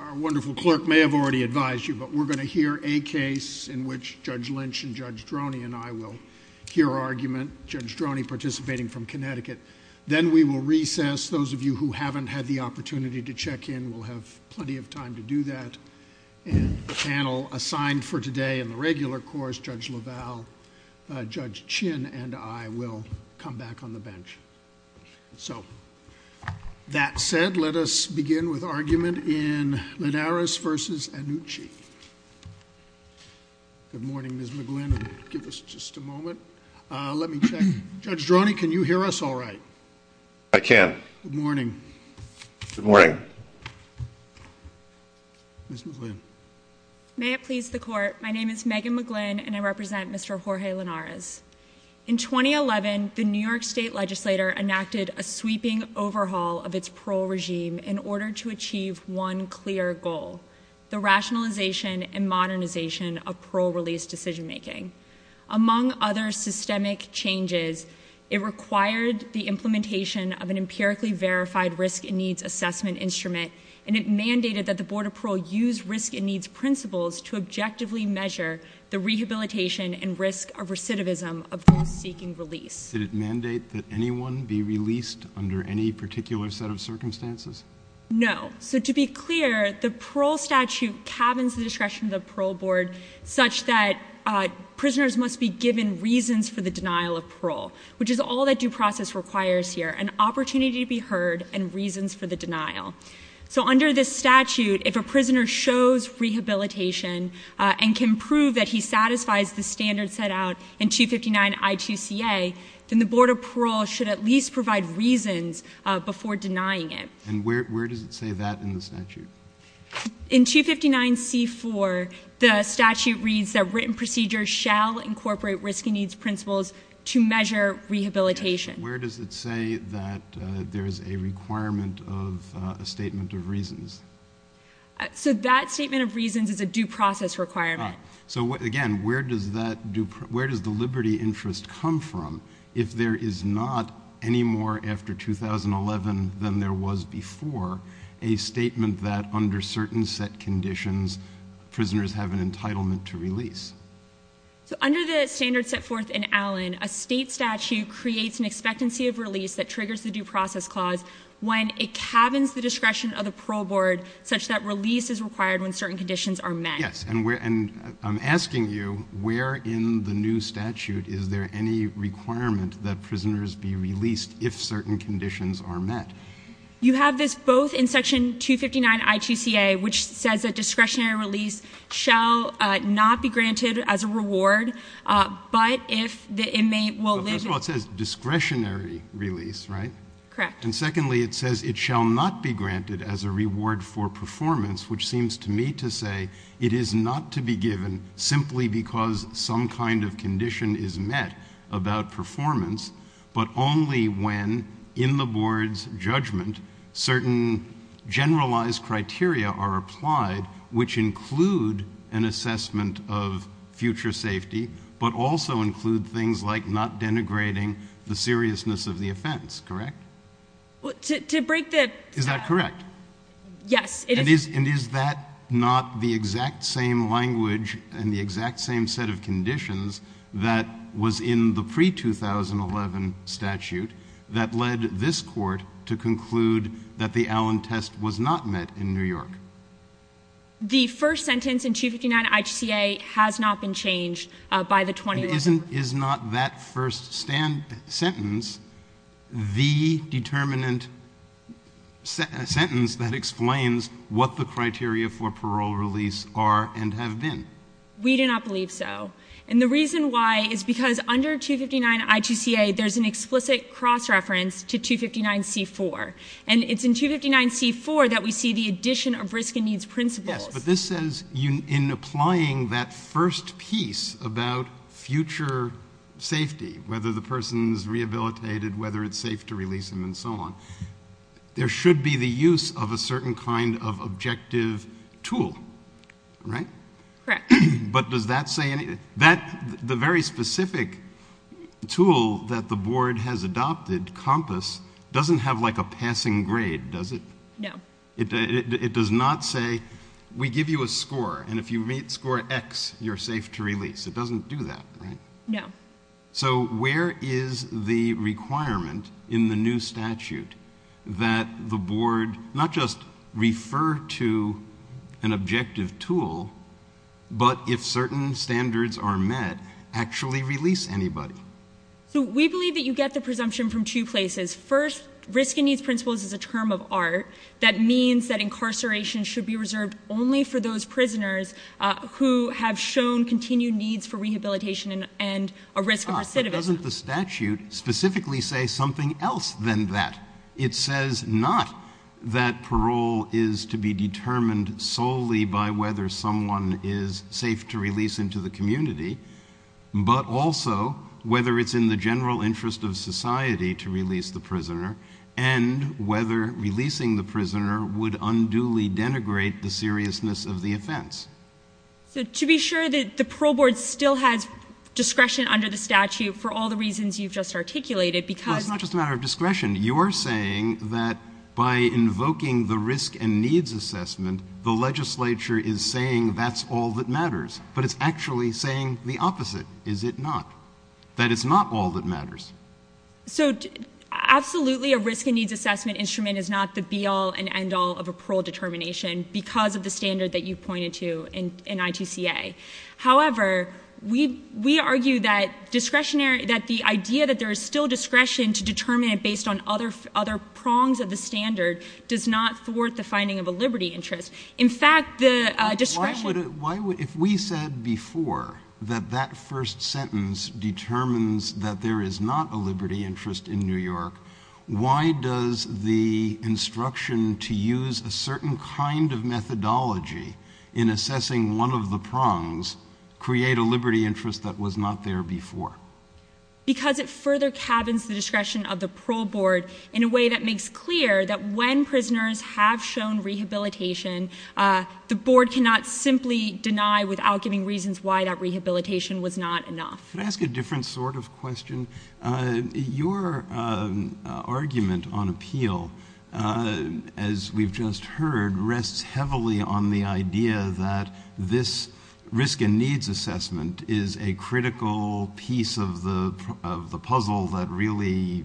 Our wonderful clerk may have already advised you, but we're going to hear a case in which Judge Lynch and Judge Droney and I will hear argument, Judge Droney participating from Connecticut. Then we will recess. Those of you who haven't had the opportunity to check in will have plenty of time to do that. And the panel assigned for today in the regular course, Judge LaValle, Judge Chin and I will come back on the bench. So, that said, let us begin with argument in Linares v. Annucci. Good morning, Ms. McGlynn. Give us just a moment. Let me check. Judge Droney, can you hear us all right? I can. Good morning. Good morning. Ms. McGlynn. May it please the court, my name is Megan McGlynn and I represent Mr. Jorge Linares. In 2011, the New York State Legislature enacted a sweeping overhaul of its parole regime in order to achieve one clear goal, the rationalization and modernization of parole release decision making. Among other systemic changes, it required the implementation of an empirically verified risk and needs assessment instrument and it mandated that the Board of Parole use risk and needs principles to objectively measure the rehabilitation and risk of recidivism of those seeking release. Did it mandate that anyone be released under any particular set of circumstances? No. So, to be clear, the parole statute cabins the discretion of the parole board such that prisoners must be given reasons for the denial of parole, which is all that due process requires here, an opportunity to be heard and reasons for the denial. So, under this statute, if a prisoner shows rehabilitation and can prove that he satisfies the standard set out in 259I2CA, then the Board of Parole should at least provide reasons before denying it. And where does it say that in the statute? In 259C4, the statute reads that written procedures shall incorporate risk and needs principles to measure rehabilitation. Where does it say that there is a requirement of a statement of reasons? So, that statement of reasons is a due process requirement. So, again, where does the liberty interest come from if there is not any more after 2011 than there was before a statement that under certain set conditions, prisoners have an entitlement to release? So, under the standard set forth in Allen, a state statute creates an expectancy of release that triggers the due process clause when it cabins the discretion of the parole board such that release is required when certain conditions are met. Yes, and I'm asking you, where in the new statute is there any requirement that prisoners be released if certain conditions are met? You have this both in section 259I2CA, which says that discretionary release shall not be granted as a reward, but if the inmate will live... Well, first of all, it says discretionary release, right? Correct. And secondly, it says it shall not be granted as a reward for performance, which seems to me to say it is not to be given simply because some kind of condition is met about performance, but only when in the board's judgment certain generalized criteria are applied, which include an assessment of future safety, but also include things like not denigrating the seriousness of the offense, correct? To break the... Is that correct? Yes, it is. And is that not the exact same language and the exact same set of conditions that was in the pre-2011 statute that led this court to conclude that the Allen test was not met in New York? The first sentence in 259I2CA has not been changed by the 2011... And is not that first sentence the determinant sentence that explains what the criteria for parole release are and have been? We do not believe so. And the reason why is because under 259I2CA there's an explicit cross-reference to 259C4. And it's in 259C4 that we see the addition of risk and needs principles. Yes, but this says in applying that first piece about future safety, whether the person is rehabilitated, whether it's safe to release him and so on, there should be the use of a certain kind of objective tool, right? Correct. But does that say anything? The very specific tool that the board has adopted, COMPAS, doesn't have like a passing grade, does it? No. It does not say, we give you a score, and if you rate score X, you're safe to release. It doesn't do that, right? No. So where is the requirement in the new statute that the board not just refer to an objective tool, but if certain standards are met, actually release anybody? So we believe that you get the presumption from two places. First, risk and needs principles is a term of art that means that incarceration should be reserved only for those prisoners who have shown continued needs for rehabilitation and a risk of recidivism. Ah, but doesn't the statute specifically say something else than that? It says not that parole is to be determined solely by whether someone is safe to release into the community, but also whether it's in the general interest of society to release the prisoner and whether releasing the prisoner would unduly denigrate the seriousness of the offense. So to be sure that the parole board still has discretion under the statute for all the reasons you've just articulated because... I'm saying that by invoking the risk and needs assessment, the legislature is saying that's all that matters, but it's actually saying the opposite, is it not? That it's not all that matters. So absolutely a risk and needs assessment instrument is not the be all and end all of a parole determination because of the standard that you pointed to in ITCA. However, we argue that discretionary, that the idea that there is still discretion to assess other prongs of the standard does not thwart the finding of a liberty interest. In fact, the discretion... If we said before that that first sentence determines that there is not a liberty interest in New York, why does the instruction to use a certain kind of methodology in assessing one of the prongs create a liberty interest that was not there before? Because it further cabins the discretion of the parole board in a way that makes clear that when prisoners have shown rehabilitation, the board cannot simply deny without giving reasons why that rehabilitation was not enough. Can I ask a different sort of question? Your argument on appeal, as we've just heard, rests heavily on the idea that this risk and needs assessment is a piece of the puzzle that really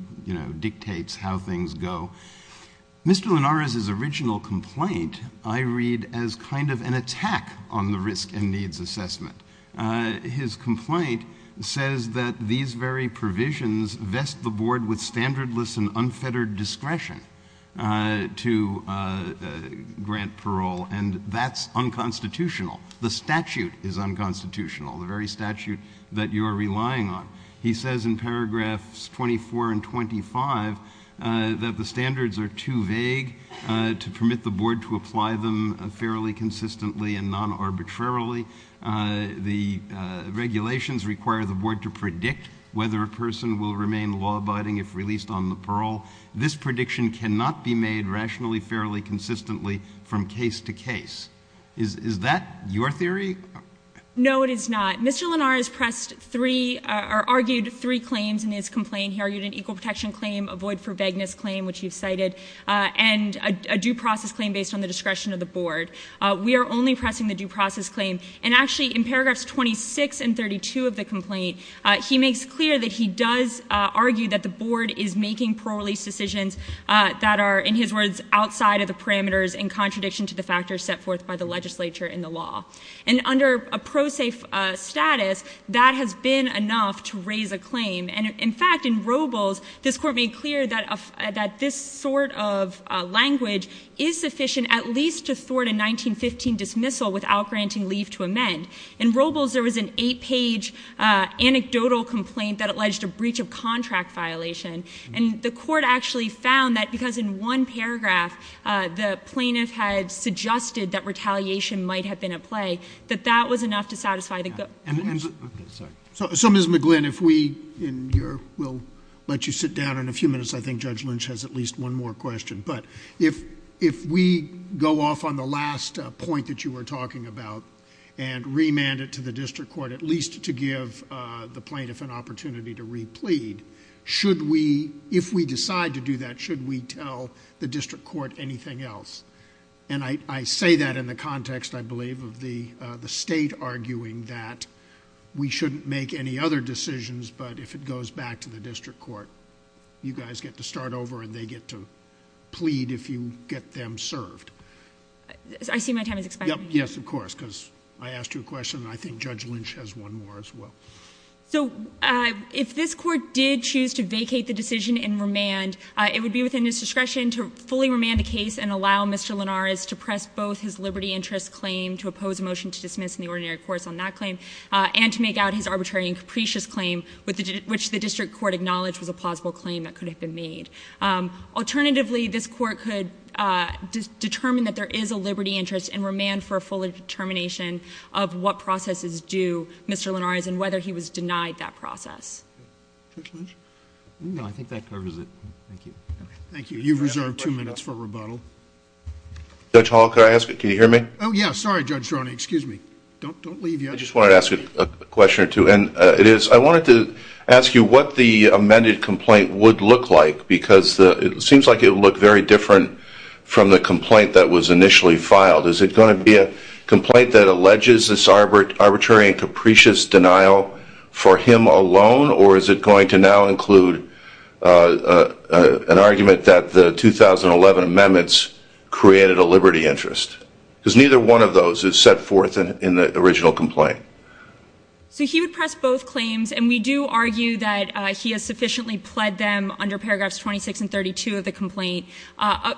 dictates how things go. Mr. Linares' original complaint I read as kind of an attack on the risk and needs assessment. His complaint says that these very provisions vest the board with standardless and unfettered discretion to grant parole, and that's unconstitutional. The statute is unconstitutional, the very statute that you are relying on. He says in paragraphs 24 and 25 that the standards are too vague to permit the board to apply them fairly consistently and non-arbitrarily. The regulations require the board to predict whether a person will remain law-abiding if released on the parole. This prediction cannot be made rationally, fairly consistently from case to case. Is that your theory? No, it is not. Mr. Linares argued three claims in his complaint. He argued an equal protection claim, a void for vagueness claim, which you've cited, and a due process claim based on the discretion of the board. We are only pressing the due process claim. And actually, in paragraphs 26 and 32 of the complaint, he makes clear that he does argue that the board is making parole release decisions that are, in his words, outside of the jurisdiction of the board by the legislature and the law. And under a pro se status, that has been enough to raise a claim. And in fact, in Robles, this court made clear that this sort of language is sufficient at least to thwart a 1915 dismissal without granting leave to amend. In Robles, there was an eight-page anecdotal complaint that alleged a breach of contract violation, and the court actually found that because in one paragraph, the plaintiff had suggested that retaliation might have been at play, that that was enough to satisfy the group. Okay, sorry. So, Ms. McGlynn, if we, in your, we'll let you sit down in a few minutes. I think Judge Lynch has at least one more question. But if we go off on the last point that you were talking about and remand it to the district court, at least to give the plaintiff an opportunity to re-plead, should we, if we decide to do that, should we tell the district court anything else? And I say that in the context, I believe, of the state arguing that we shouldn't make any other decisions, but if it goes back to the district court, you guys get to start over and they get to plead if you get them served. I see my time is expiring. Yes, of course, because I asked you a question and I think Judge Lynch has one more as well. So, if this court did choose to vacate the decision and remand, it would be within its discretion to fully remand the case and allow Mr. Linares to press both his liberty interest claim to oppose a motion to dismiss in the ordinary course on that claim and to make out his arbitrary and capricious claim, which the district court acknowledged was a plausible claim that could have been made. Alternatively, this court could determine that there is a liberty interest and remand for a full determination of what processes do Mr. Linares and whether he was denied that process. Judge Lynch? No, I think that covers it. Thank you. Thank you. You've reserved two minutes for rebuttal. Judge Hall, can I ask you, can you hear me? Oh, yeah. Sorry, Judge Droney. Excuse me. Don't leave yet. I just wanted to ask you a question or two and I wanted to ask you what the amended complaint would look like because it seems like it would look very different from the complaint that was initially filed. Is it going to be a complaint that alleges this arbitrary and capricious denial for him alone or is it going to now include an argument that the 2011 amendments created a liberty interest? Because neither one of those is set forth in the original complaint. So he would press both claims and we do argue that he has sufficiently pled them under paragraphs 26 and 32 of the complaint.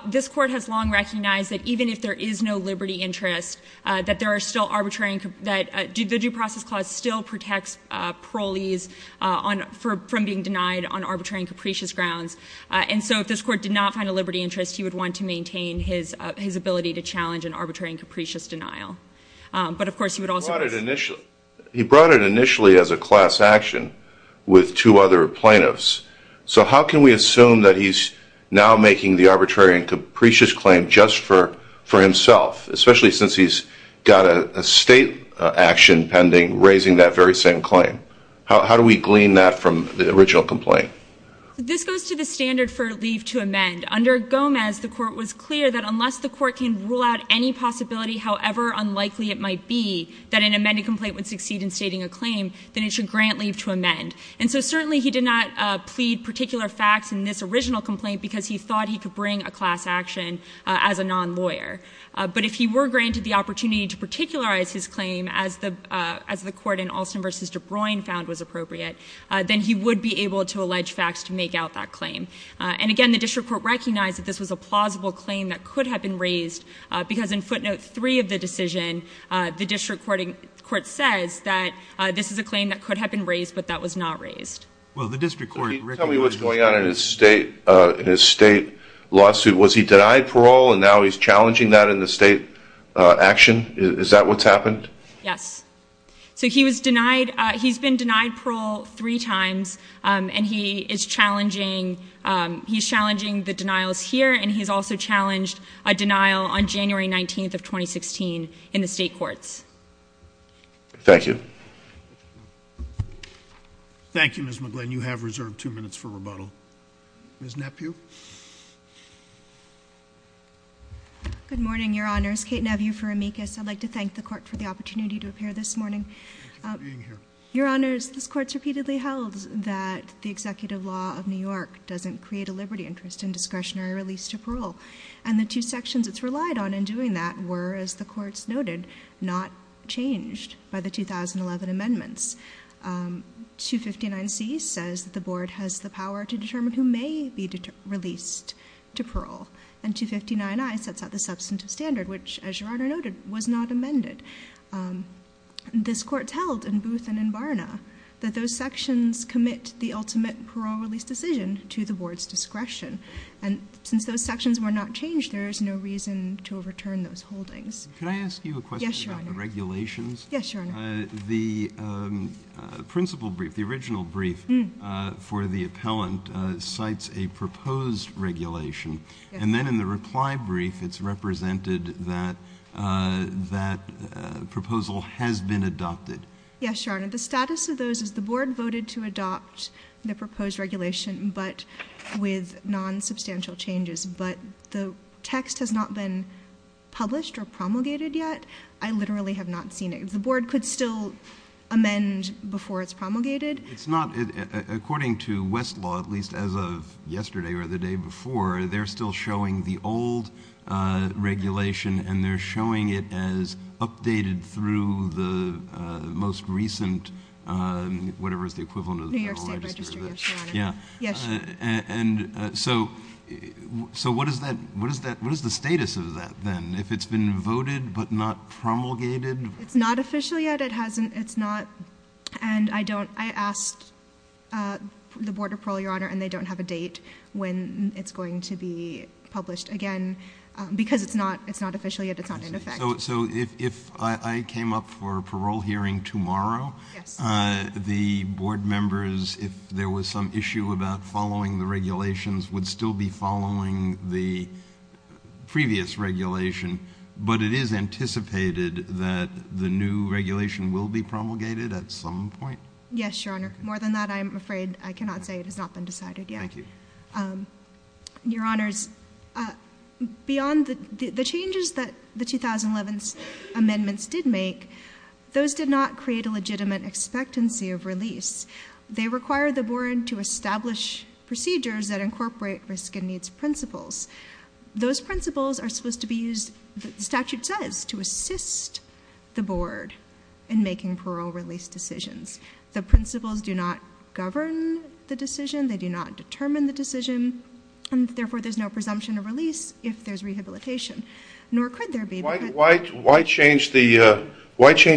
This court has long recognized that even if there is no liberty interest, that there are still arbitrary and that the due process clause still protects parolees from being denied on arbitrary and capricious grounds. And so if this court did not find a liberty interest, he would want to maintain his ability to challenge an arbitrary and capricious denial. But, of course, he would also- He brought it initially as a class action with two other plaintiffs. So how can we assume that he's now making the arbitrary and capricious claim just for himself, especially since he's got a state action pending raising that very same claim? How do we glean that from the original complaint? This goes to the standard for leave to amend. Under Gomez, the court was clear that unless the court can rule out any possibility, however unlikely it might be, that an amended complaint would succeed in stating a claim, then it should grant leave to amend. And so certainly he did not plead particular facts in this original complaint because he thought he could bring a class action as a non-lawyer. But if he were granted the opportunity to particularize his claim as the court in Alston v. DeBruin found was appropriate, then he would be able to allege facts to make out that claim. And, again, the district court recognized that this was a plausible claim that could have been raised because in footnote 3 of the decision, the district court says that this is a claim that could have been raised but that was not raised. Can you tell me what's going on in his state lawsuit? Was he denied parole and now he's challenging that in the state action? Is that what's happened? Yes. So he was denied, he's been denied parole three times and he is challenging, he's challenging the denials here and he's also challenged a denial on January 19th of 2016 in the state courts. Thank you. Thank you, Ms. McGlynn. You have reserved two minutes for rebuttal. Ms. Nephew. Good morning, Your Honors. Kate Nephew for Amicus. I'd like to thank the court for the opportunity to appear this morning. Thank you for being here. Your Honors, this court's repeatedly held that the executive law of New York doesn't create a liberty interest in discretionary release to parole. And the two sections it's relied on in doing that were, as the court's noted, in the 2011 amendments. 259C says the board has the power to determine who may be released to parole. And 259I sets out the substantive standard which, as Your Honor noted, was not amended. This court's held in Booth and in Barna that those sections commit the ultimate parole release decision to the board's discretion. And since those sections were not changed, there is no reason to overturn those holdings. Can I ask you a question about the regulations? Yes, Your Honor. The principle brief, the original brief for the appellant, cites a proposed regulation. And then in the reply brief, it's represented that that proposal has been adopted. Yes, Your Honor. The status of those is the board voted to adopt the proposed regulation, but with non-substantial changes. But the text has not been published or promulgated yet. I literally have not seen it. The board could still amend before it's promulgated. It's not. According to Westlaw, at least as of yesterday or the day before, they're still showing the old regulation and they're showing it as updated through the most recent, whatever is the equivalent of the Federal Register. New York State Register, yes, Your Honor. Yeah. Yes, Your Honor. And so what is the status of that then? If it's been voted but not promulgated? It's not official yet. It hasn't. It's not. And I don't. I asked the Board of Parole, Your Honor, and they don't have a date when it's going to be published again because it's not official yet. It's not in effect. So if I came up for a parole hearing tomorrow, the board members, if there was some issue about following the regulations, would still be promulgated at some point? Yes, Your Honor. More than that, I'm afraid, I cannot say. It has not been decided yet. Thank you. Your Honors, beyond the changes that the 2011 amendments did make, those did not create a legitimate expectancy of release. They required the board to establish procedures that incorporate Those principles are supposed to be used in a way that is The statute says to assist the board in making parole release decisions. The principles do not govern the decision. They do not determine the decision. Therefore, there's no presumption of release if there's rehabilitation. Nor could there be. Why change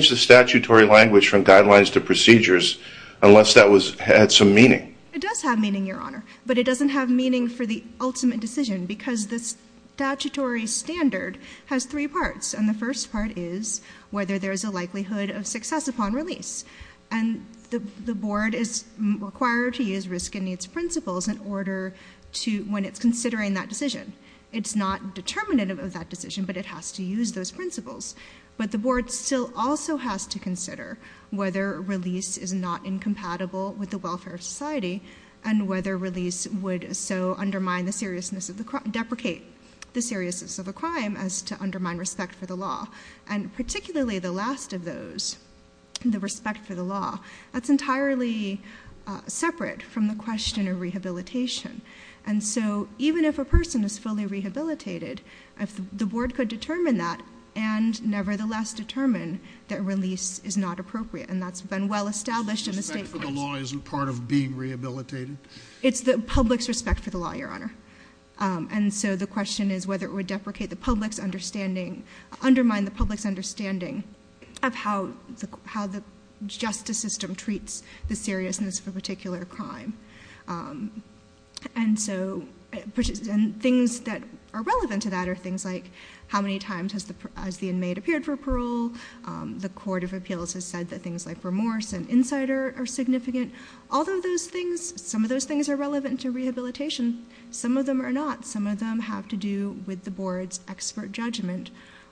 the statutory language from guidelines to procedures unless that had some meaning? It does have meaning, Your Honor, but it doesn't have meaning for the ultimate decision, because the statutory standard has three parts. And the first part is whether there's a likelihood of success upon release. And the board is required to use risk and needs principles in order to, when it's considering that decision. It's not determinative of that decision, but it has to use those principles. But the board still also has to consider whether release is not incompatible with the welfare of society and whether release would so undermine the seriousness of the crime, deprecate the seriousness of the crime as to undermine respect for the law. And particularly the last of those, the respect for the law, that's entirely separate from the question of rehabilitation. And so even if a person is fully rehabilitated, the board could determine that and nevertheless determine that release is not appropriate. And that's been well established. Respect for the law isn't part of being rehabilitated? It's the public's respect for the law, Your Honor. And so the question is whether it would deprecate the public's understanding, undermine the public's understanding of how the justice system treats the seriousness of a particular crime. And so things that are relevant to that are things like how many times has the inmate appeared for parole, the court of appeals has said that things like remorse and insider are significant. All of those things, some of those things are relevant to rehabilitation. Some of them are not. Some of them have to do with the board's expert judgment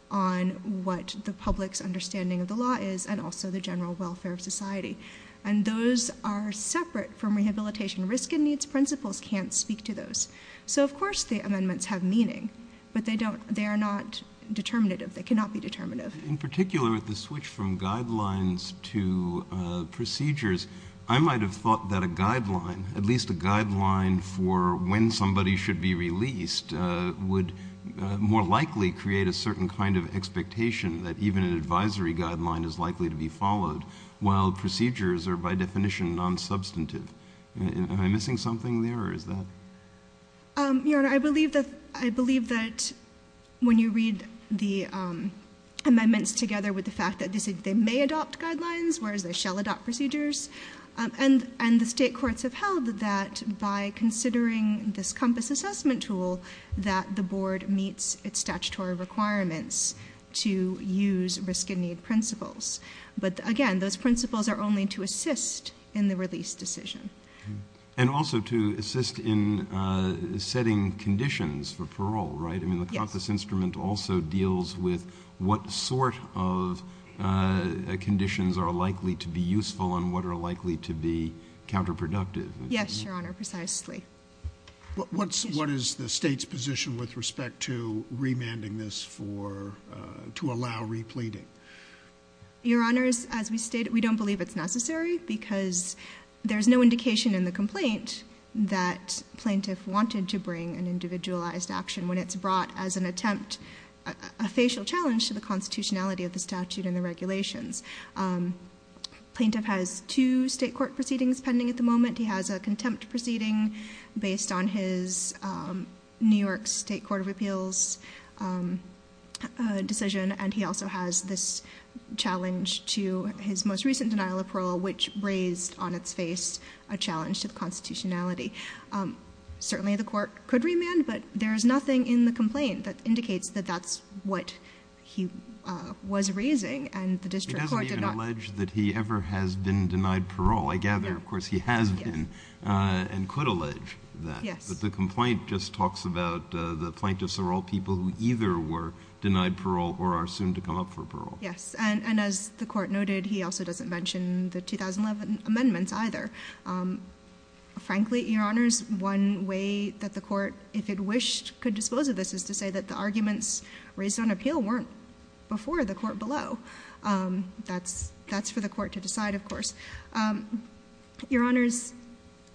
on what the public's understanding of the law is and also the general welfare of society. And those are separate from rehabilitation. Risk and needs principles can't speak to those. So of course the amendments have meaning, but they are not determinative. They cannot be determinative. In particular, the switch from guidelines to procedures, I'm sure you might have thought that a guideline, at least a guideline for when somebody should be released would more likely create a certain kind of expectation that even an advisory guideline is likely to be followed while procedures are by definition non-substantive. Am I missing something there or is that? Your Honor, I believe that when you read the amendments together with the fact that they may adopt guidelines whereas they may not. And the state courts have held that by considering this compass assessment tool that the board meets its statutory requirements to use risk and need principles. But again, those principles are only to assist in the release decision. And also to assist in setting conditions for parole, right? Yes. I mean the compass instrument also deals with what sort of guidelines are likely to be useful and what are likely to be counterproductive. Yes, Your Honor, precisely. What is the state's position with respect to remanding this for, to allow repleting? Your Honors, as we stated, we don't believe it's necessary because there's no indication in the complaint that plaintiff wanted to bring an individualized action when it's brought as an attempt, a facial challenge to the constitutionality of the statute and the regulations. Plaintiff has two state court proceedings pending at the moment. He has a contempt proceeding based on his New York State Court of Appeals decision and he also has this challenge to his most recent denial of parole which raised on its face a challenge to the constitutionality. Certainly the court could remand but there's nothing in the complaint that indicates that that's what he was raising and that the district court did not. He doesn't even allege that he ever has been denied parole. I gather, of course, he has been and could allege that. Yes. But the complaint just talks about the plaintiffs are all people who either were denied parole or are soon to come up for parole. Yes. And as the court noted, he also doesn't mention the 2011 amendments either. Frankly, Your Honors, one way that the court, if it wished, could dispose of this is to say that the arguments raised on the court below. That's for the court to decide, of course. Your Honors,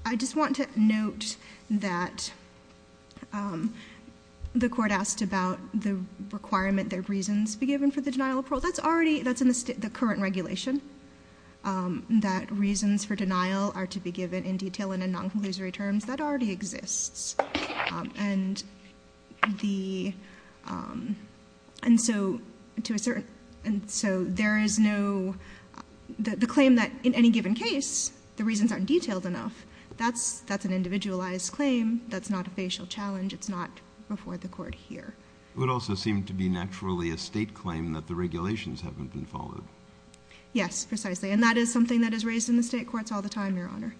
I just want to note that the court asked about the requirement that reasons be given for the denial of parole. That's already, that's in the current regulation that reasons for denial are to be given in detail and in non-conclusory terms. That already exists. And the, and so to a certain, and so there is no, the claim that in any given case, the reasons aren't detailed enough, that's an individualized claim. That's not a facial challenge. It's not before the court here. It would also seem to be naturally a state claim that the regulations haven't been followed. Yes, precisely. And that is something that is raised in the state courts all the time, Your Honor.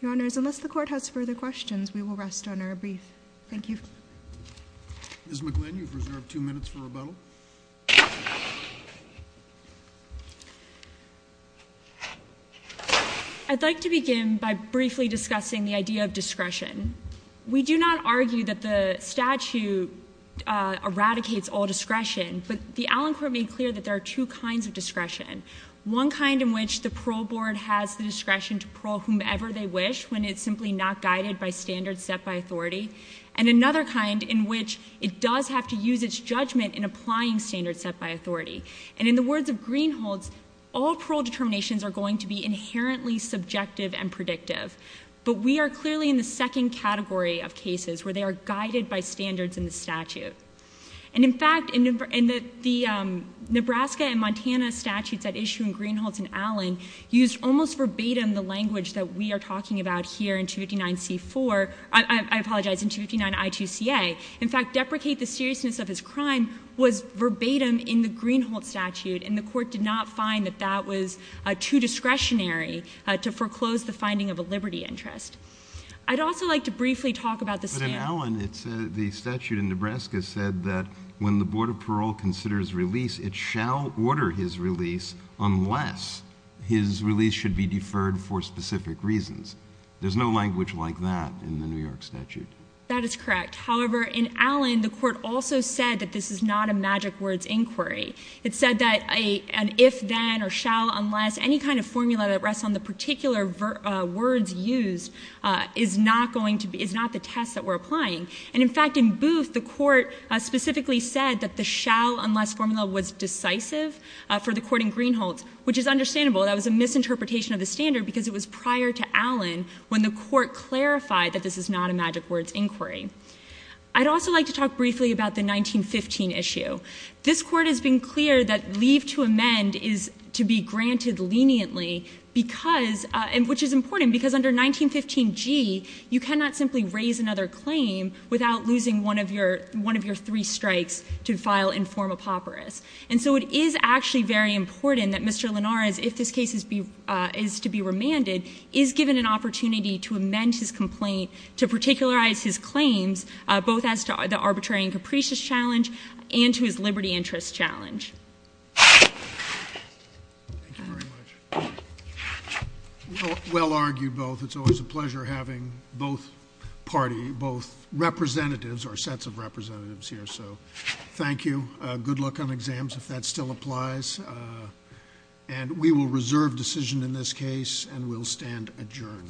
Your Honors, unless the court has further questions, we will rest on our brief. Thank you. Ms. McGlynn, you've reserved two minutes for rebuttal. I'd like to begin by briefly discussing the idea of discretion. We do not argue that the statute eradicates all discretion, but the Allen Court made clear that there are two kinds of discretion. One kind in which the parole board has the discretion to parole whomever they wish when it's simply not guided by standards set by authority. And another kind in which it does have to use its judgment in applying standards set by authority. And in the words of Greenhalghz, all parole determinations are going to be inherently subjective and predictive. But we are clearly in the second category of cases where they are guided by standards in the statute. And in fact, in the Nebraska and Montana statutes at issue in Nebraska, it's almost verbatim the language that we are talking about here in 259C4, I apologize, in 259I2CA. In fact, deprecate the seriousness of his crime was verbatim in the Greenhalghz statute, and the court did not find that that was too discretionary to foreclose the finding of a liberty interest. I'd also like to briefly talk about the standard. But in Allen, the statute in Nebraska said that when the board of parole considers release, it shall order his release should be deferred for specific reasons. There's no language like that in the New York statute. That is correct. However, in Allen, the court also said that this is not a magic words inquiry. It said that an if-then or shall-unless, any kind of formula that rests on the particular words used, is not the test that we're applying. And in fact, in Booth, the court specifically said that the shall-unless formula was decisive for the court in Greenhalghz, which is understandable. That was a misinterpretation of the standard because it was prior to Allen when the court clarified that this is not a magic words inquiry. I'd also like to talk briefly about the 1915 issue. This court has been clear that leave to amend is to be granted leniently, because, and which is important, because under 1915G, you cannot simply raise another claim without losing one of your, one of your three strikes to file and form a papyrus. And so it is actually very important that Mr. Allen, whose case is to be remanded, is given an opportunity to amend his complaint, to particularize his claims, both as to the arbitrary and capricious challenge and to his liberty interest challenge. Thank you very much. Well argued, both. It's always a pleasure having both parties, both representatives or sets of representatives here. So thank you. Good luck on exams, if that still applies. And we will reserve decision in this case and we'll stand adjourned.